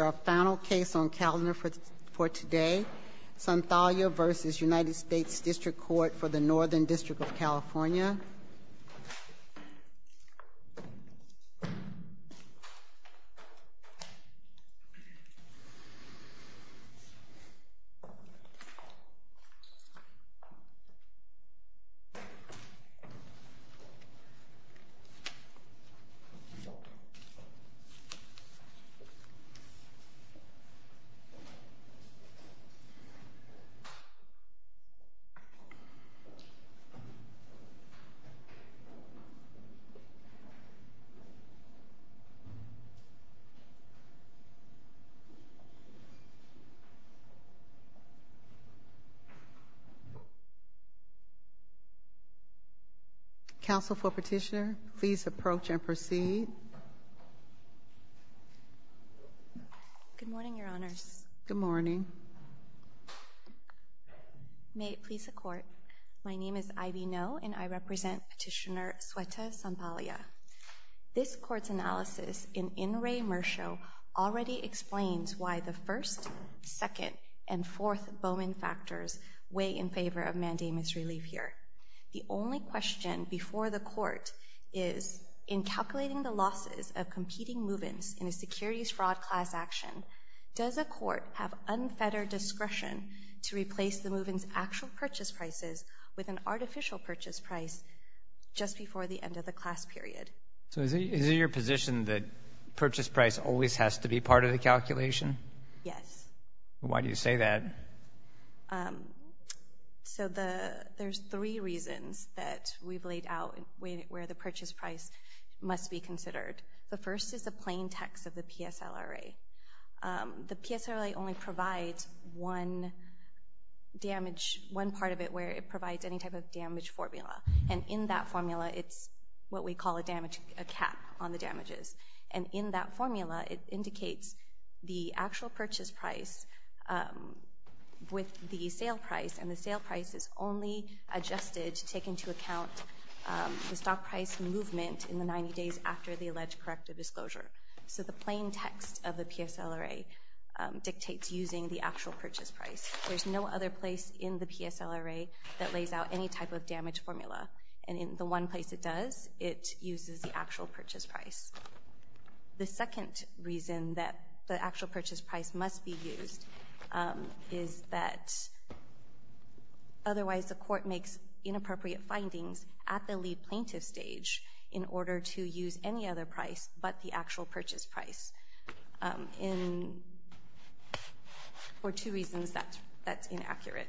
our final case on calendar for today, Sonthalia v. U.S.D.C. for the Northern District of California. J. Council for petitioner please May it please the court. My name is Ivy know and I represent petitioner sweater, Zambalia This court's analysis in in Raymer show already explains Why the first second and fourth Bowman factors weigh in favor of mandamus relief here? The only question before the court is in calculating the losses of competing movements in a securities fraud class action Does a court have unfettered discretion to replace the movings actual purchase prices with an artificial purchase price Just before the end of the class period so is it your position that purchase price always has to be part of the calculation Yes, why do you say that? So the there's three reasons that we've laid out where the purchase price Must be considered the first is a plain text of the PSL array The PSL really only provides one Damage one part of it where it provides any type of damage formula and in that formula It's what we call a damage a cap on the damages and in that formula. It indicates the actual purchase price With the sale price and the sale price is only adjusted to take into account The stock price movement in the 90 days after the alleged corrective disclosure So the plain text of the PSL array Dictates using the actual purchase price There's no other place in the PSL array that lays out any type of damage formula and in the one place It does it uses the actual purchase price? The second reason that the actual purchase price must be used is that Otherwise the court makes Inappropriate findings at the lead plaintiff stage in order to use any other price, but the actual purchase price in For two reasons that that's inaccurate.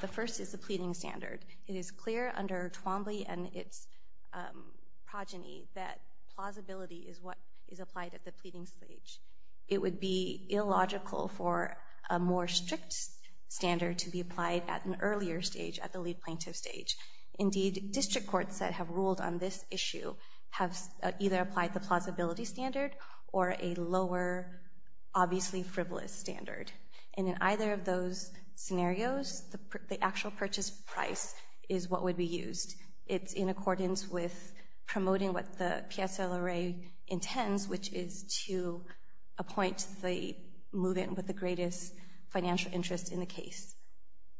The first is the pleading standard. It is clear under Twombly and its Progeny that plausibility is what is applied at the pleading stage It would be illogical for a more strict Standard to be applied at an earlier stage at the lead plaintiff stage Indeed district courts that have ruled on this issue have either applied the plausibility standard or a lower Obviously frivolous standard and in either of those Scenarios the actual purchase price is what would be used. It's in accordance with Promoting what the PSL array intends, which is to Appoint the move-in with the greatest financial interest in the case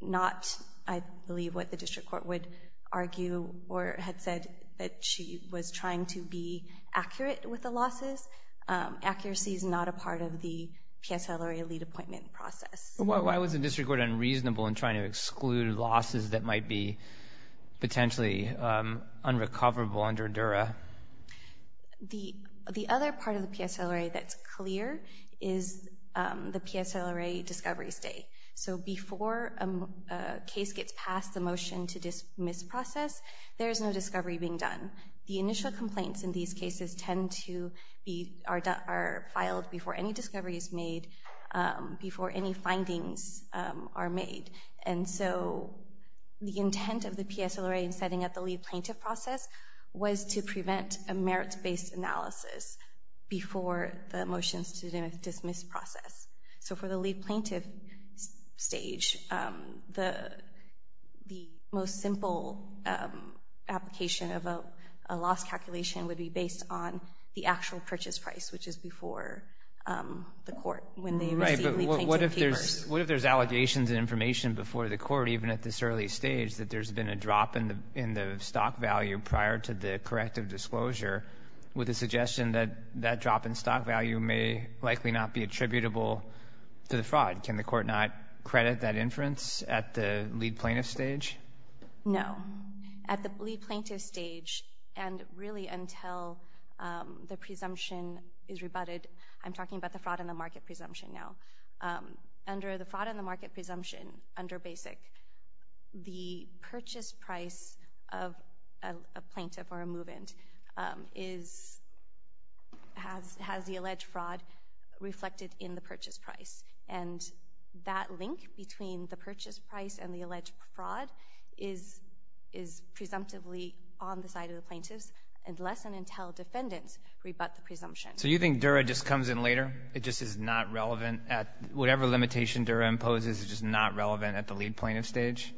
Not I believe what the district court would argue or had said that she was trying to be accurate with the losses Accuracy is not a part of the PSL array lead appointment process Why was the district court unreasonable in trying to exclude losses that might be? potentially unrecoverable under dura The the other part of the PSL array that's clear is the PSL array discovery state so before a Case gets passed the motion to dismiss process There is no discovery being done the initial complaints in these cases tend to be are filed before any discovery is made before any findings are made and so The intent of the PSL array and setting at the lead plaintiff process was to prevent a merits-based analysis before the motions to dismiss process so for the lead plaintiff stage the the most simple Application of a loss calculation would be based on the actual purchase price, which is before The court when they What if there's allegations and information before the court even at this early stage that there's been a drop in the in the stock value prior to the corrective disclosure With a suggestion that that drop in stock value may likely not be attributable to the fraud Can the court not credit that inference at the lead plaintiff stage? No at the lead plaintiff stage and really until The presumption is rebutted I'm talking about the fraud in the market presumption now under the fraud in the market presumption under basic the purchase price of a plaintiff or a move-in is Has has the alleged fraud? reflected in the purchase price and that link between the purchase price and the alleged fraud is is Presumptively on the side of the plaintiffs and less than until defendants rebut the presumption So you think Dura just comes in later? It just is not relevant at whatever limitation Dura imposes is just not relevant at the lead plaintiff stage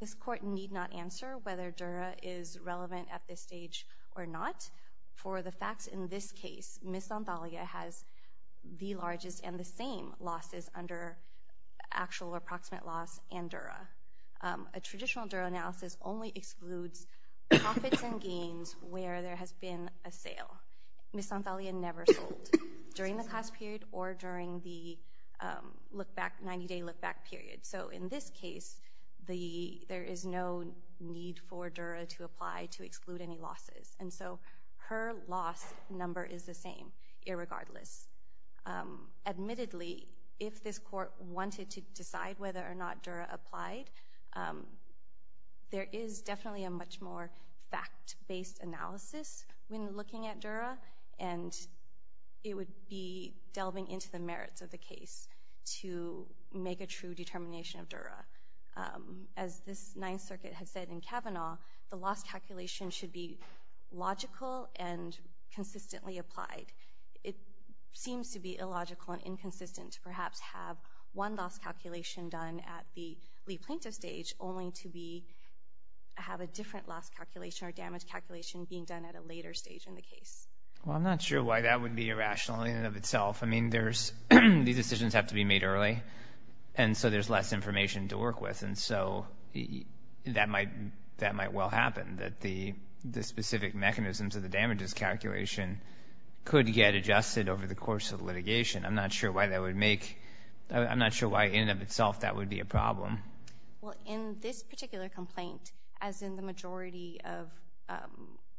This court need not answer whether Dura is relevant at this stage or not For the facts in this case miss on Thalia has the largest and the same losses under Actual or proximate loss and Dura a traditional Dura analysis only excludes Profits and gains where there has been a sale miss on Thalia never sold during the class period or during the Look back 90-day look-back period So in this case the there is no need for Dura to apply to exclude any losses And so her loss number is the same irregardless Admittedly if this court wanted to decide whether or not Dura applied There is definitely a much more fact-based analysis when looking at Dura and It would be delving into the merits of the case to make a true determination of Dura as this Ninth Circuit has said in Kavanaugh the loss calculation should be logical and Illogical and inconsistent to perhaps have one loss calculation done at the lead plaintiff stage only to be Have a different loss calculation or damage calculation being done at a later stage in the case Well, I'm not sure why that would be irrational in and of itself I mean, there's these decisions have to be made early and so there's less information to work with and so That might that might well happen that the the specific mechanisms of the damages calculation Could get adjusted over the course of litigation. I'm not sure why that would make I'm not sure why in of itself. That would be a problem. Well in this particular complaint as in the majority of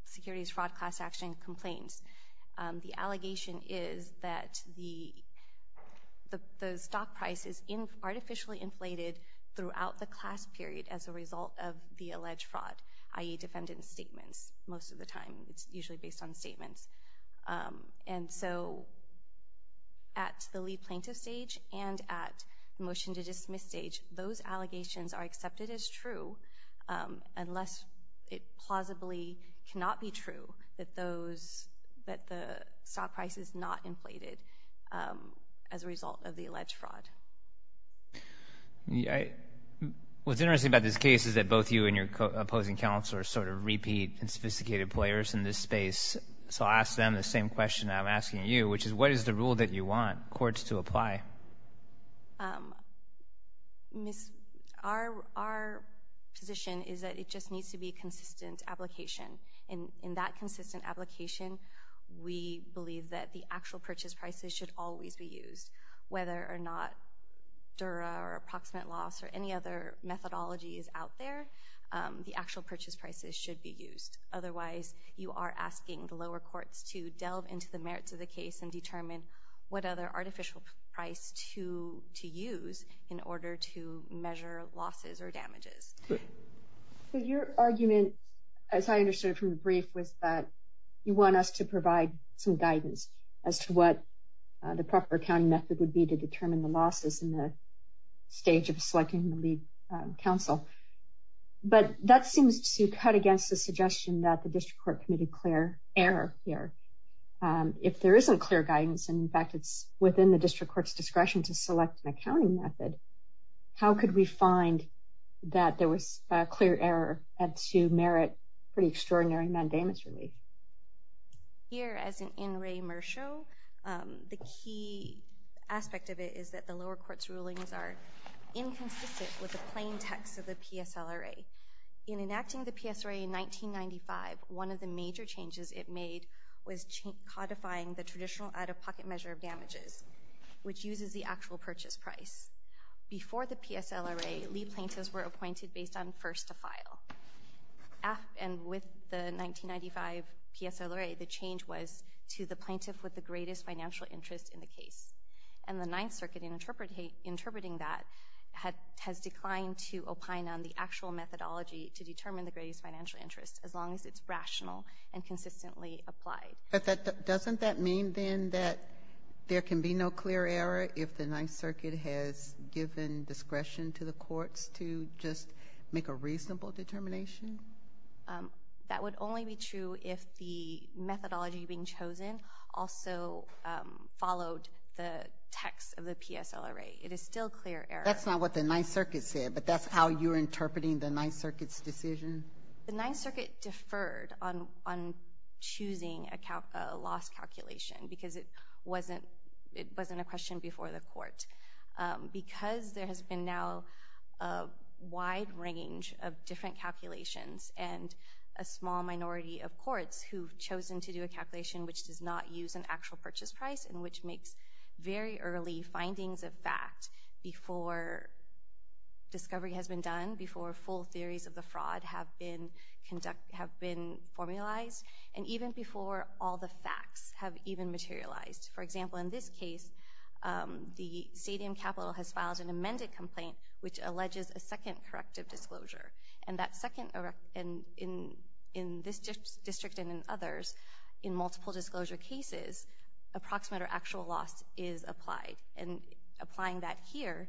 Securities fraud class-action complaints the allegation is that the the stock price is in artificially inflated throughout the class period as a result of the alleged fraud ie Defendant statements most of the time. It's usually based on statements and so At the lead plaintiff stage and at the motion to dismiss stage those allegations are accepted as true Unless it plausibly cannot be true that those that the stock price is not inflated as a result of the alleged fraud Yeah What's interesting about this case is that both you and your opposing counselor sort of repeat and sophisticated players in this space So I'll ask them the same question. I'm asking you which is what is the rule that you want courts to apply? Miss our our Position is that it just needs to be consistent application in in that consistent application We believe that the actual purchase prices should always be used whether or not Dura or approximate loss or any other methodology is out there The actual purchase prices should be used Otherwise you are asking the lower courts to delve into the merits of the case and determine what other artificial price to To use in order to measure losses or damages So your argument as I understood from the brief was that you want us to provide some guidance as to what? The proper accounting method would be to determine the losses in the stage of selecting the lead counsel But that seems to cut against the suggestion that the district court committed clear error here If there isn't clear guidance, and in fact, it's within the district court's discretion to select an accounting method How could we find that there was a clear error and to merit pretty extraordinary mandamus relief? Here as an in re mercio the key Aspect of it is that the lower courts rulings are Inconsistent with the plain text of the PSL array in enacting the PS array in 1995 one of the major changes It made was codifying the traditional out-of-pocket measure of damages, which uses the actual purchase price Before the PSL array Lee plaintiffs were appointed based on first to file And with the 1995 PSL array the change was to the plaintiff with the greatest financial interest in the case and the Ninth Circuit in interpret hate Interpreting that had has declined to opine on the actual methodology to determine the greatest financial interest as long as it's rational and Consistently applied but that doesn't that mean then that there can be no clear error if the Ninth Circuit has Given discretion to the courts to just make a reasonable determination that would only be true if the methodology being chosen also Followed the text of the PSL array. It is still clear That's not what the Ninth Circuit said, but that's how you're interpreting the Ninth Circuit's decision the Ninth Circuit deferred on Choosing account a loss calculation because it wasn't it wasn't a question before the court Because there has been now a wide range of different calculations and a small minority of courts who've chosen to do a calculation which does not use an actual purchase price and which makes very early findings of fact before Discovery has been done before full theories of the fraud have been Conduct have been formalized and even before all the facts have even materialized for example in this case The stadium capital has filed an amended complaint which alleges a second corrective disclosure and that second over and in In this district and in others in multiple disclosure cases Approximate or actual loss is applied and applying that here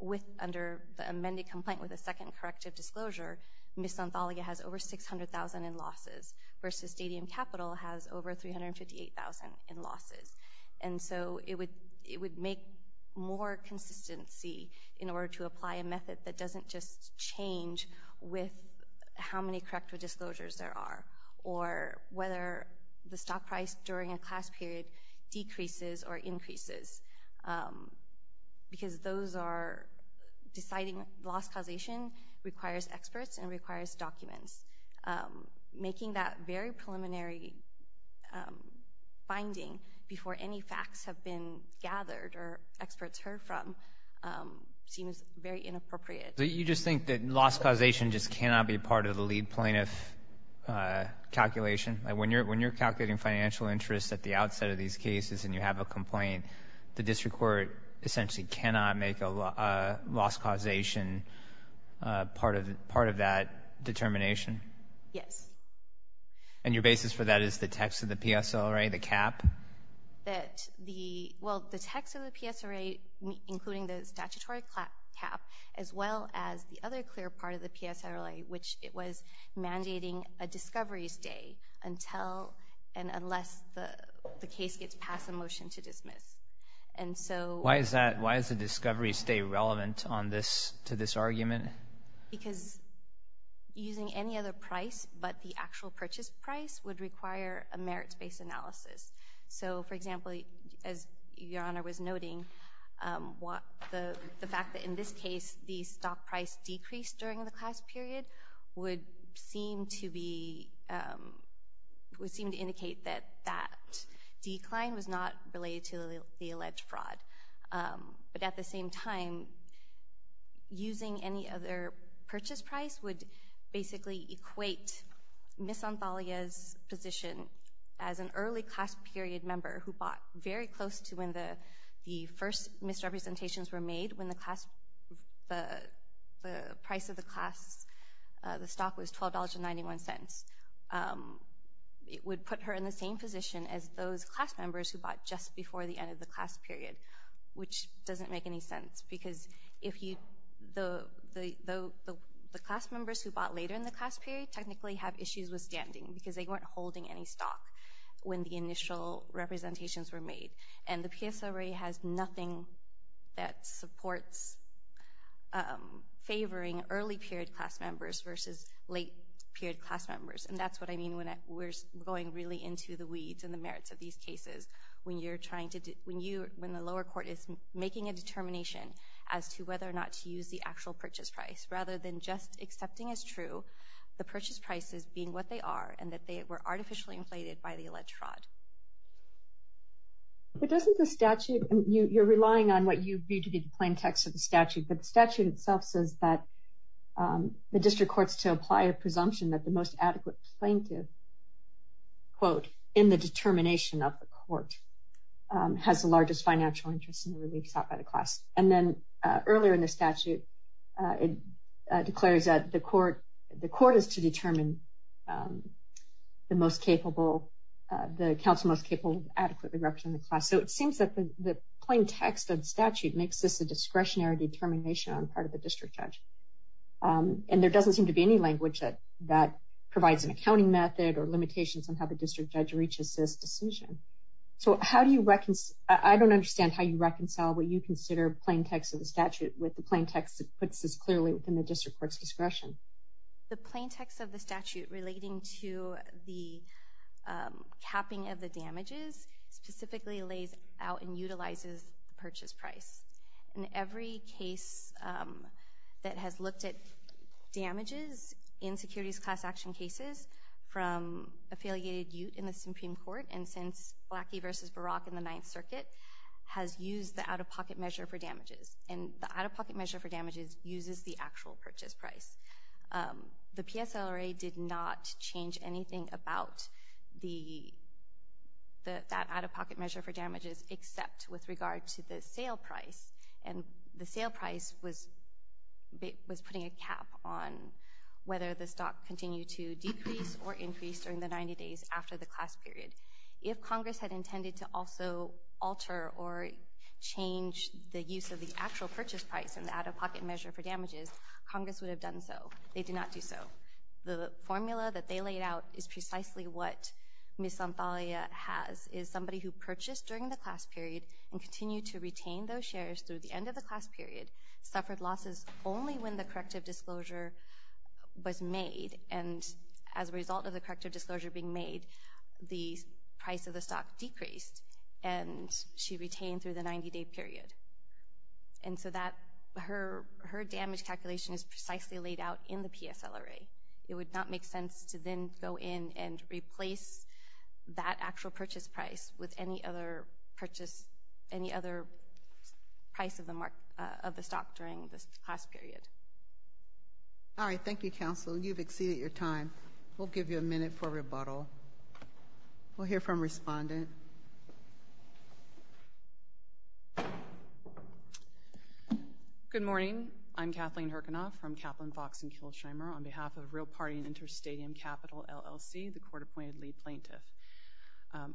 with under the amended complaint with a second corrective disclosure Miss Nathalia has over six hundred thousand in losses versus stadium capital has over three hundred fifty eight thousand in losses And so it would it would make more consistency in order to apply a method that doesn't just change with how many corrective disclosures there are or Whether the stock price during a class period decreases or increases Because those are Deciding loss causation requires experts and requires documents Making that very preliminary Binding before any facts have been gathered or experts heard from Seems very inappropriate. You just think that loss causation just cannot be part of the lead plaintiff Calculation when you're when you're calculating financial interests at the outset of these cases and you have a complaint the district court essentially cannot make a loss causation Part of the part of that determination. Yes And your basis for that is the text of the PSL right the cap That the well the text of the PSA rate including the statutory clap cap as well as the other clear part of the PSA relay, which it was mandating a discovery stay until and unless the Case gets passed a motion to dismiss. And so why is that? Why is the discovery stay relevant on this to this argument? because Using any other price but the actual purchase price would require a merits-based analysis So for example as your honor was noting What the the fact that in this case the stock price decreased during the class period would seem to be? Would seem to indicate that that decline was not related to the alleged fraud but at the same time Using any other purchase price would basically equate Miss Antalya's position as an early class period member who bought very close to when the the first misrepresentations were made when the class the price of the class The stock was $12.91 It would put her in the same position as those class members who bought just before the end of the class period Which doesn't make any sense because if you the the the the class members who bought later in the class period Technically have issues with standing because they weren't holding any stock when the initial Representations were made and the PSA re has nothing that supports Favoring early period class members versus late period class members And that's what I mean when we're going really into the weeds and the merits of these cases When you're trying to do when you when the lower court is making a determination as to whether or not to use the actual purchase Price rather than just accepting as true the purchase prices being what they are and that they were artificially inflated by the alleged fraud But doesn't the statute you you're relying on what you need to be the plain text of the statute but the statute itself says that The district courts to apply a presumption that the most adequate plaintiff Quote in the determination of the court Has the largest financial interest in the relief sought by the class and then earlier in the statute It declares that the court the court is to determine the most capable The council most capable adequately represent the class So it seems that the plain text of the statute makes this a discretionary determination on part of the district judge And there doesn't seem to be any language that that provides an accounting method or limitations on how the district judge reaches this decision So, how do you reckon? I don't understand how you reconcile what you consider plain text of the statute with the plain text that puts this clearly within the district court's discretion the plain text of the statute relating to the Capping of the damages specifically lays out and utilizes the purchase price in every case That has looked at damages in securities class action cases from Affiliated you in the Supreme Court and since lackey versus Barack in the Ninth Circuit Has used the out-of-pocket measure for damages and the out-of-pocket measure for damages uses the actual purchase price the PSL already did not change anything about the The that out-of-pocket measure for damages except with regard to the sale price and the sale price was It was putting a cap on whether the stock continued to decrease or increase during the 90 days after the class period if Congress had intended to also alter or Change the use of the actual purchase price and the out-of-pocket measure for damages Congress would have done So they did not do so the formula that they laid out is precisely what? Miss on Thalia has is somebody who purchased during the class period and continue to retain those shares through the end of the class period Suffered losses only when the corrective disclosure was made and as a result of the corrective disclosure being made the price of the stock decreased and she retained through the 90-day period and Her her damage calculation is precisely laid out in the PSL array It would not make sense to then go in and replace That actual purchase price with any other purchase any other Price of the mark of the stock during this class period All right. Thank you counsel. You've exceeded your time. We'll give you a minute for rebuttal We'll hear from respondent Good morning I'm Kathleen Harkin off from Kaplan Fox and Killsheimer on behalf of a real party and interstadium capital LLC the court appointed lead plaintiff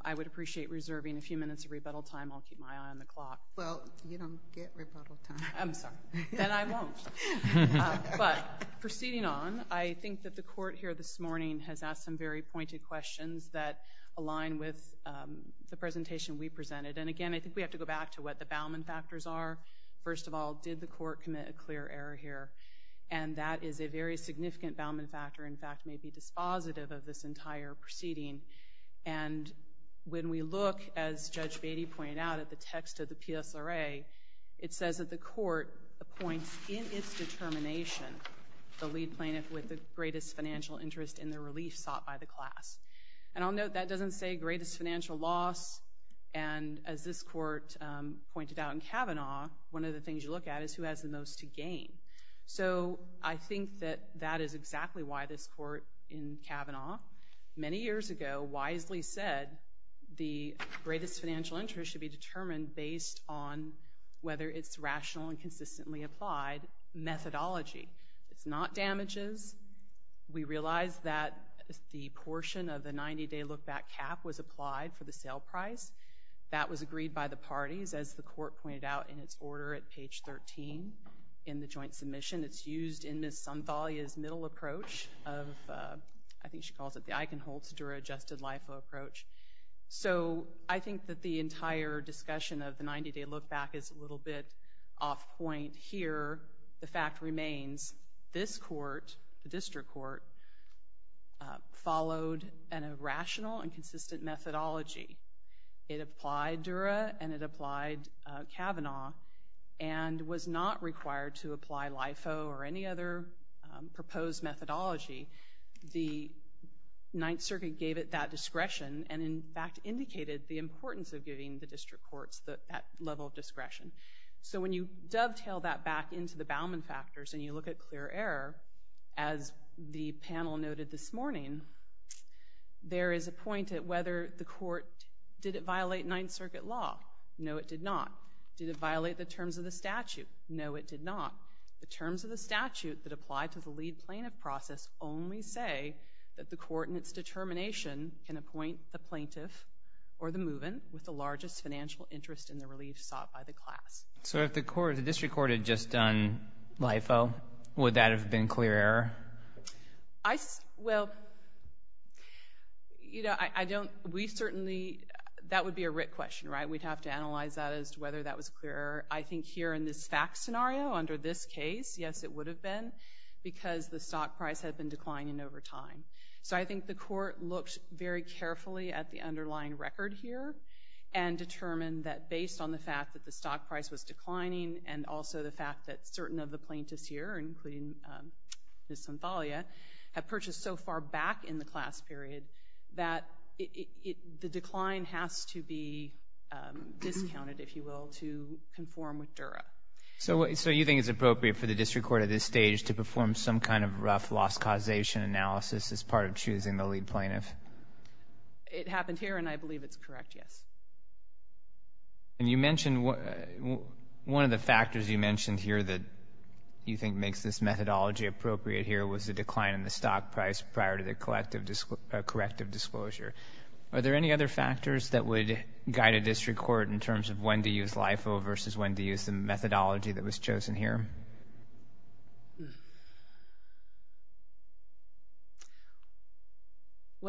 I would appreciate reserving a few minutes of rebuttal time. I'll keep my eye on the clock. Well, you don't get But proceeding on I think that the court here this morning has asked some very pointed questions that align with The presentation we presented and again, I think we have to go back to what the Bauman factors are First of all, did the court commit a clear error here? and that is a very significant Bauman factor in fact may be dispositive of this entire proceeding and When we look as judge Beatty pointed out at the text of the PSL array It says that the court appoints in its determination the lead plaintiff with the greatest financial interest in the relief sought by the class and I'll note that doesn't say greatest financial loss and as this court Pointed out in Kavanaugh. One of the things you look at is who has the most to gain? So I think that that is exactly why this court in Kavanaugh many years ago wisely said The greatest financial interest should be determined based on whether it's rational and consistently applied Methodology, it's not damages We realized that the portion of the 90-day look-back cap was applied for the sale price That was agreed by the parties as the court pointed out in its order at page 13 in the joint submission It's used in this some Thalia's middle approach of I think she calls it the Eichenholz Dura adjusted life approach So I think that the entire discussion of the 90-day look-back is a little bit off point here The fact remains this court the district court Followed an irrational and consistent methodology it applied Dura and it applied Kavanaugh and Was not required to apply LIFO or any other proposed methodology the Ninth Circuit gave it that discretion and in fact indicated the importance of giving the district courts that level of discretion so when you dovetail that back into the Bauman factors and you look at clear error as The panel noted this morning There is a point at whether the court did it violate Ninth Circuit law? No, it did not did it violate the terms of the statute? No It did not the terms of the statute that applied to the lead plaintiff process only say that the court in its Determination can appoint the plaintiff or the movement with the largest financial interest in the relief sought by the class So if the court the district court had just done LIFO would that have been clear error? I well You know, I don't we certainly That would be a writ question, right? We'd have to analyze that as to whether that was clear I think here in this fact scenario under this case Yes, it would have been because the stock price had been declining over time so I think the court looked very carefully at the underlying record here and Determined that based on the fact that the stock price was declining and also the fact that certain of the plaintiffs here including Miss Anthalia have purchased so far back in the class period that the decline has to be Discounted if you will to conform with Dura So so you think it's appropriate for the district court at this stage to perform some kind of rough loss causation Analysis as part of choosing the lead plaintiff It happened here and I believe it's correct. Yes And you mentioned one of the factors you mentioned here that You think makes this methodology appropriate here was the decline in the stock price prior to the collective disc corrective disclosure Are there any other factors that would? Guide a district court in terms of when to use LIFO versus when to use the methodology that was chosen here Hmm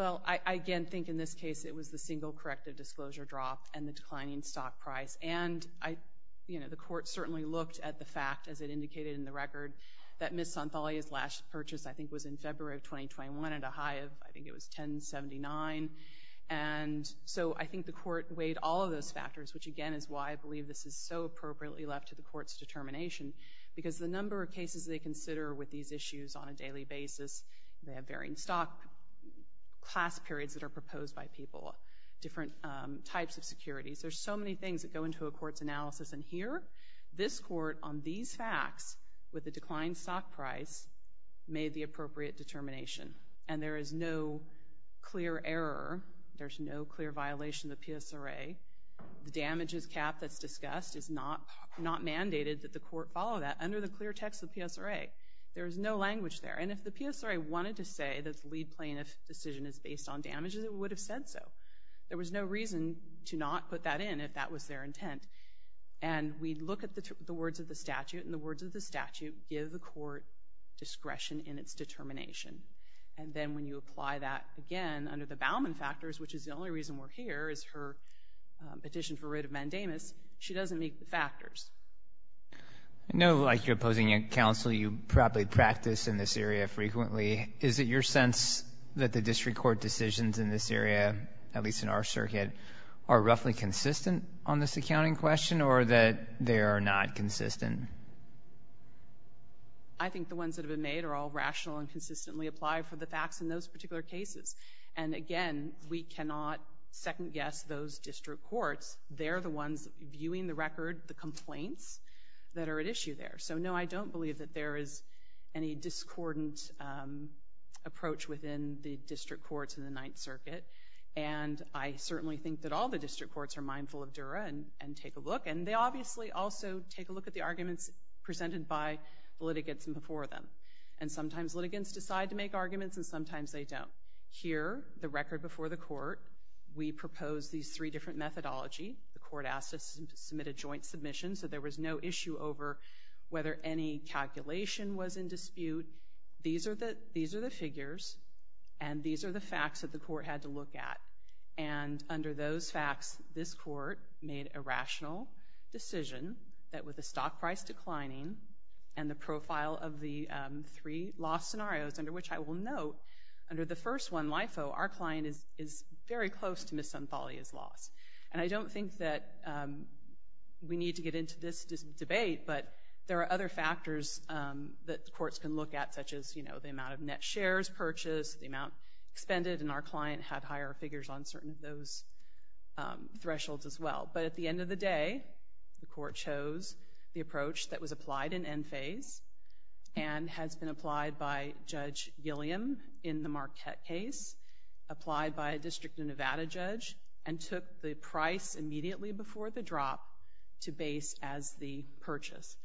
Well, I again think in this case it was the single corrective disclosure drop and the declining stock price and I You know the court certainly looked at the fact as it indicated in the record that Miss Anthalia's last purchase I think was in February of 2021 at a high of I think it was 1079 and So I think the court weighed all of those factors Which again is why I believe this is so appropriately left to the courts Determination because the number of cases they consider with these issues on a daily basis. They have varying stock Class periods that are proposed by people different types of securities There's so many things that go into a court's analysis and here this court on these facts with the declined stock price Made the appropriate determination and there is no Violation the PSRA The damages cap that's discussed is not not mandated that the court follow that under the clear text of PSRA There is no language there And if the PSRA wanted to say that's lead plaintiff decision is based on damages it would have said so there was no reason to not put that in if that was their intent and We look at the words of the statute and the words of the statute give the court Discretion in its determination and then when you apply that again under the Bauman factors Which is the only reason we're here is her Petition for writ of mandamus. She doesn't make the factors No, like you're opposing a council you probably practice in this area frequently Is it your sense that the district court decisions in this area at least in our circuit are? Roughly consistent on this accounting question or that they are not consistent. I Think the ones that have been made are all rational and consistently apply for the facts in those particular cases and again We cannot second-guess those district courts. They're the ones viewing the record the complaints that are at issue there So no, I don't believe that there is any discordant approach within the district courts in the Ninth Circuit and I certainly think that all the district courts are mindful of Dura and and take a look and they obviously Also, take a look at the arguments presented by the litigants and before them and sometimes litigants decide to make arguments And sometimes they don't here the record before the court We propose these three different methodology the court asked us to submit a joint submission. So there was no issue over Whether any calculation was in dispute these are the these are the figures and these are the facts that the court had to look at and Under those facts this court made a rational decision that with the stock price declining and the profile of the 3-3 loss scenarios under which I will note under the first one life. Oh, our client is is very close to miss Anthony is lost and I don't think that We need to get into this debate, but there are other factors That the courts can look at such as you know The amount of net shares purchased the amount expended and our client had higher figures on certain of those Thresholds as well. But at the end of the day the court chose the approach that was applied in end phase and Has been applied by Judge Gilliam in the Marquette case Applied by a District of Nevada judge and took the price immediately before the drop To base as the purchase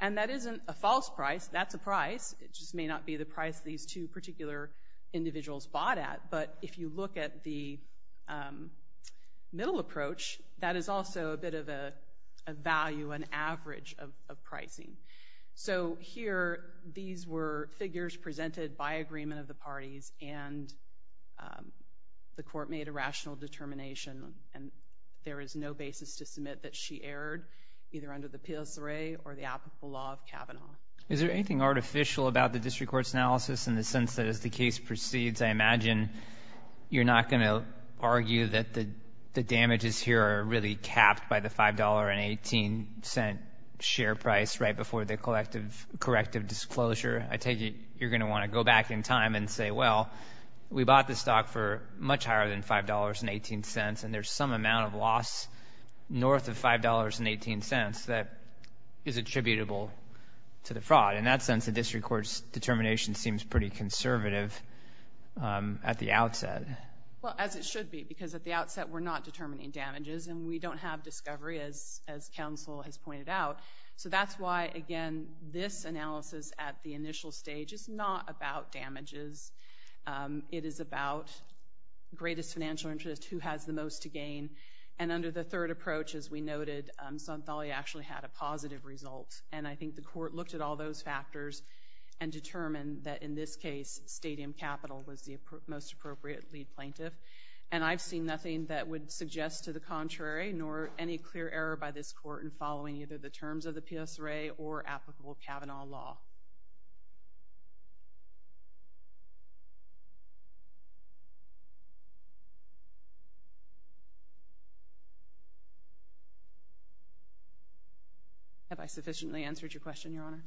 and that isn't a false price. That's a price it just may not be the price these two particular individuals bought at but if you look at the Middle approach that is also a bit of a Value an average of pricing. So here these were figures presented by agreement of the parties and The court made a rational determination and there is no basis to submit that she erred Either under the PLC array or the applicable law of Kavanaugh Is there anything artificial about the district courts analysis in the sense that as the case proceeds I imagine You're not going to argue that the the damages here are really capped by the five dollar and eighteen cent Share price right before the collective corrective disclosure. I take it You're gonna want to go back in time and say well We bought the stock for much higher than five dollars and eighteen cents and there's some amount of loss North of five dollars and eighteen cents that is attributable to the fraud in that sense the district courts determination seems pretty conservative At the outset Well as it should be because at the outset, we're not determining damages and we don't have discovery as as counsel has pointed out So that's why again this analysis at the initial stage is not about damages it is about Greatest financial interest who has the most to gain and under the third approach as we noted some Thalia actually had a positive result and I think the court looked at all those factors and Capital was the most appropriate lead plaintiff and I've seen nothing that would suggest to the contrary Nor any clear error by this court and following either the terms of the PS ray or applicable Kavanaugh law Have I sufficiently answered your question your honor.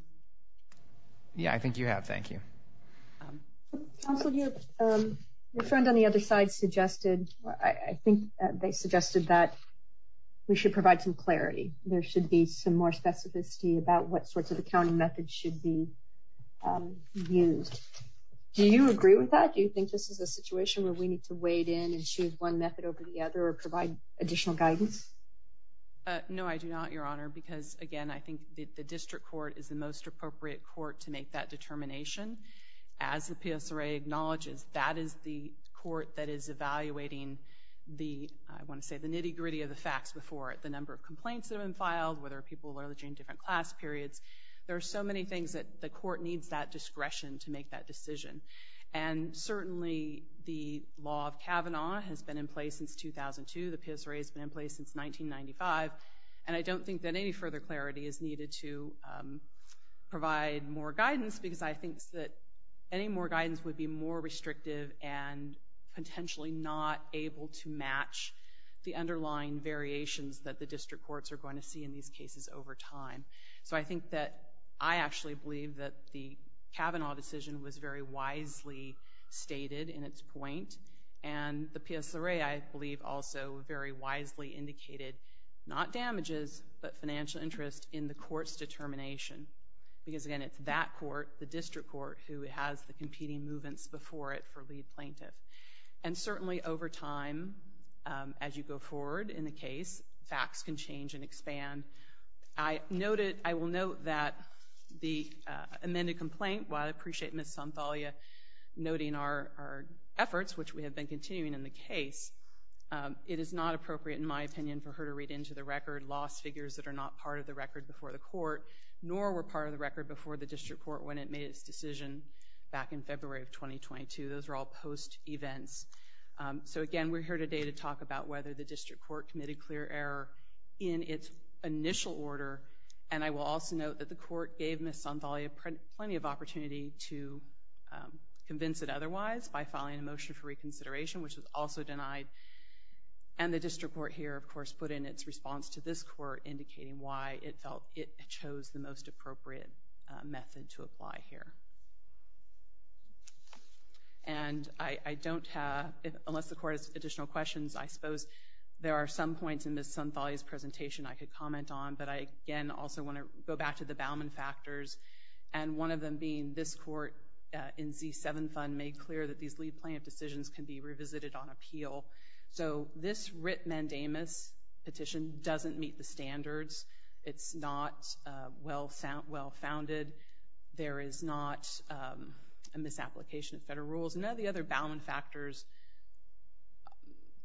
Yeah, I think you have thank you Your friend on the other side suggested I think they suggested that We should provide some clarity. There should be some more specificity about what sorts of accounting methods should be used Do you agree with that? Do you think this is a situation where we need to wade in and choose one method over the other or provide additional guidance? No, I do not your honor because again, I think the district court is the most appropriate court to make that determination as the PS array acknowledges that is the court that is evaluating the I want to say the nitty-gritty of the facts before it the number of complaints that have been filed whether people are the gene different class periods there are so many things that the court needs that discretion to make that decision and Certainly the law of Kavanaugh has been in place since 2002 The PS array has been in place since 1995 and I don't think that any further clarity is needed to provide more guidance because I think that any more guidance would be more restrictive and Potentially not able to match the underlying variations that the district courts are going to see in these cases over time So I think that I actually believe that the Kavanaugh decision was very wisely Stated in its point and the PS array. I believe also very wisely indicated not damages but financial interest in the courts determination and because again, it's that court the district court who has the competing movements before it for lead plaintiff and certainly over time As you go forward in the case facts can change and expand. I Noted, I will note that the amended complaint while I appreciate miss on Thalia noting our Efforts, which we have been continuing in the case It is not appropriate in my opinion for her to read into the record lost figures that are not part of the record before The court nor were part of the record before the district court when it made its decision back in February of 2022 Those are all post events So again, we're here today to talk about whether the district court committed clear error in its initial order and I will also note that the court gave miss on Thalia plenty of opportunity to convince it otherwise by filing a motion for reconsideration, which was also denied and The district court here, of course put in its response to this court indicating why it felt it chose the most appropriate method to apply here and I I don't have unless the court has additional questions. I suppose there are some points in this some Thalia's presentation I could comment on but I again also want to go back to the Bauman factors and One of them being this court in z7 fund made clear that these lead plaintiff decisions can be revisited on appeal So this writ mandamus petition doesn't meet the standards. It's not Well sound well founded. There is not a misapplication of federal rules and now the other Bauman factors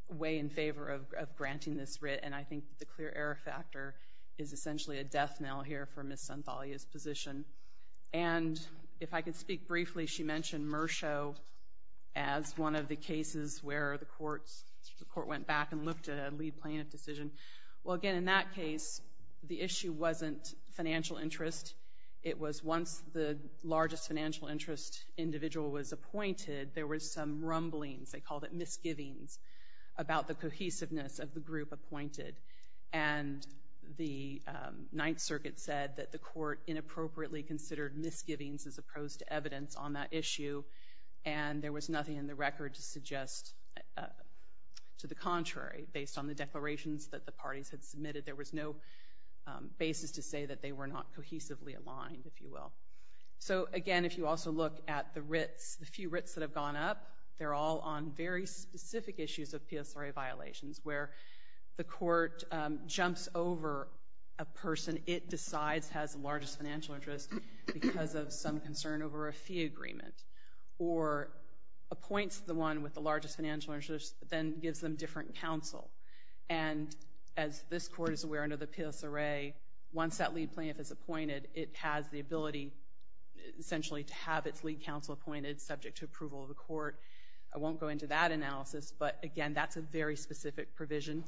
Way in favor of granting this writ and I think the clear error factor is essentially a death knell here for miss on Thalia's position and if I could speak briefly she mentioned mer show as The court went back and looked at a lead plaintiff decision. Well again in that case the issue wasn't financial interest It was once the largest financial interest individual was appointed. There was some rumblings they called it misgivings about the cohesiveness of the group appointed and the Ninth Circuit said that the court inappropriately considered misgivings as opposed to evidence on that issue and There was nothing in the record to suggest To the contrary based on the declarations that the parties had submitted there was no Basis to say that they were not cohesively aligned if you will So again, if you also look at the writs the few writs that have gone up They're all on very specific issues of PSRA violations where the court jumps over a person it decides has the largest financial interest because of some concern over a fee agreement or Appoints the one with the largest financial interest then gives them different counsel and As this court is aware under the PSRA once that lead plaintiff is appointed. It has the ability Essentially to have its lead counsel appointed subject to approval of the court. I won't go into that analysis, but again That's a very specific provision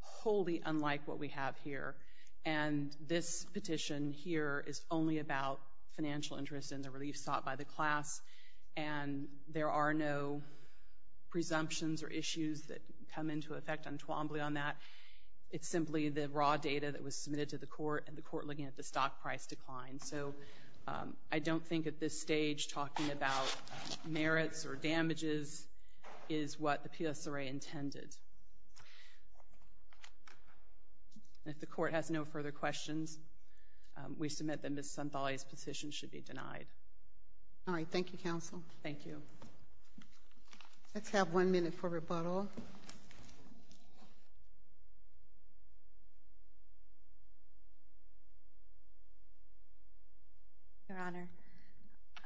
wholly unlike what we have here and this petition here is only about financial interest in the relief sought by the class and There are no Presumptions or issues that come into effect on Twombly on that It's simply the raw data that was submitted to the court and the court looking at the stock price decline So I don't think at this stage talking about merits or damages is What the PSRA intended? If the court has no further questions We submit them as somebody's position should be denied All right, thank you counsel, thank you Let's have one minute for rebuttal Your honor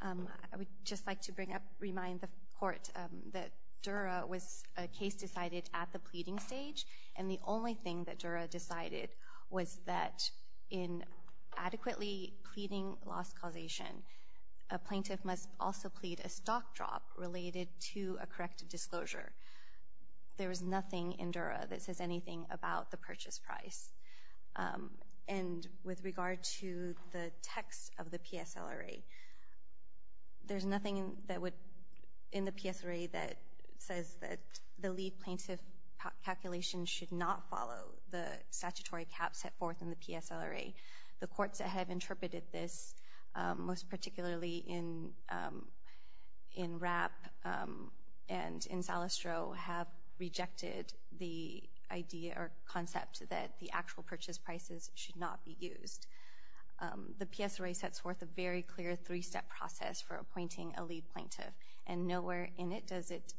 I would just like to bring up remind the court that Dura was a case decided at the pleading stage and the only thing that Dura decided was that in adequately pleading loss causation A plaintiff must also plead a stock drop related to a corrective disclosure There is nothing in Dura that says anything about the purchase price And with regard to the text of the PSLRA There's nothing that would in the PSRA that says that the lead plaintiff Calculation should not follow the statutory cap set forth in the PSLRA the courts that have interpreted this most particularly in in wrap and in Salastro have Rejected the idea or concept that the actual purchase prices should not be used The PSRA sets forth a very clear three-step process for appointing a lead plaintiff and nowhere in it Does it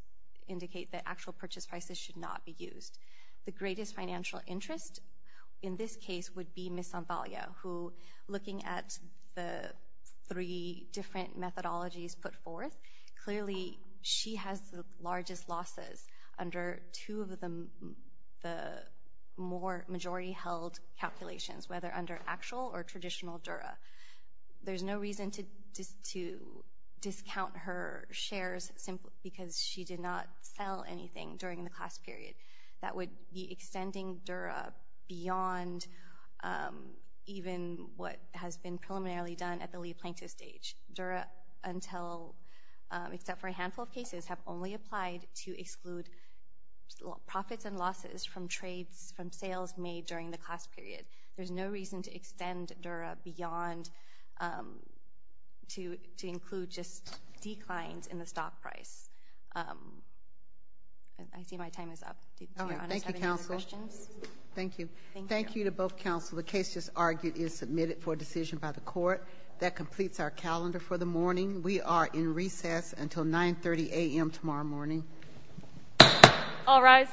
indicate that actual purchase prices should not be used the greatest financial interest in this case would be Miss Sampaglia who looking at the three different methodologies put forth clearly she has the largest losses under two of them the more majority held calculations whether under actual or traditional Dura there's no reason to just to Discount her shares simply because she did not sell anything during the class period that would be extending Dura beyond Even what has been preliminarily done at the lead plaintiff stage Dura until Except for a handful of cases have only applied to exclude Profits and losses from trades from sales made during the class period. There's no reason to extend Dura beyond To to include just declines in the stock price I See my time is up Questions, thank you. Thank you to both counsel The case just argued is submitted for a decision by the court that completes our calendar for the morning We are in recess until 9 30 a.m. Tomorrow morning All right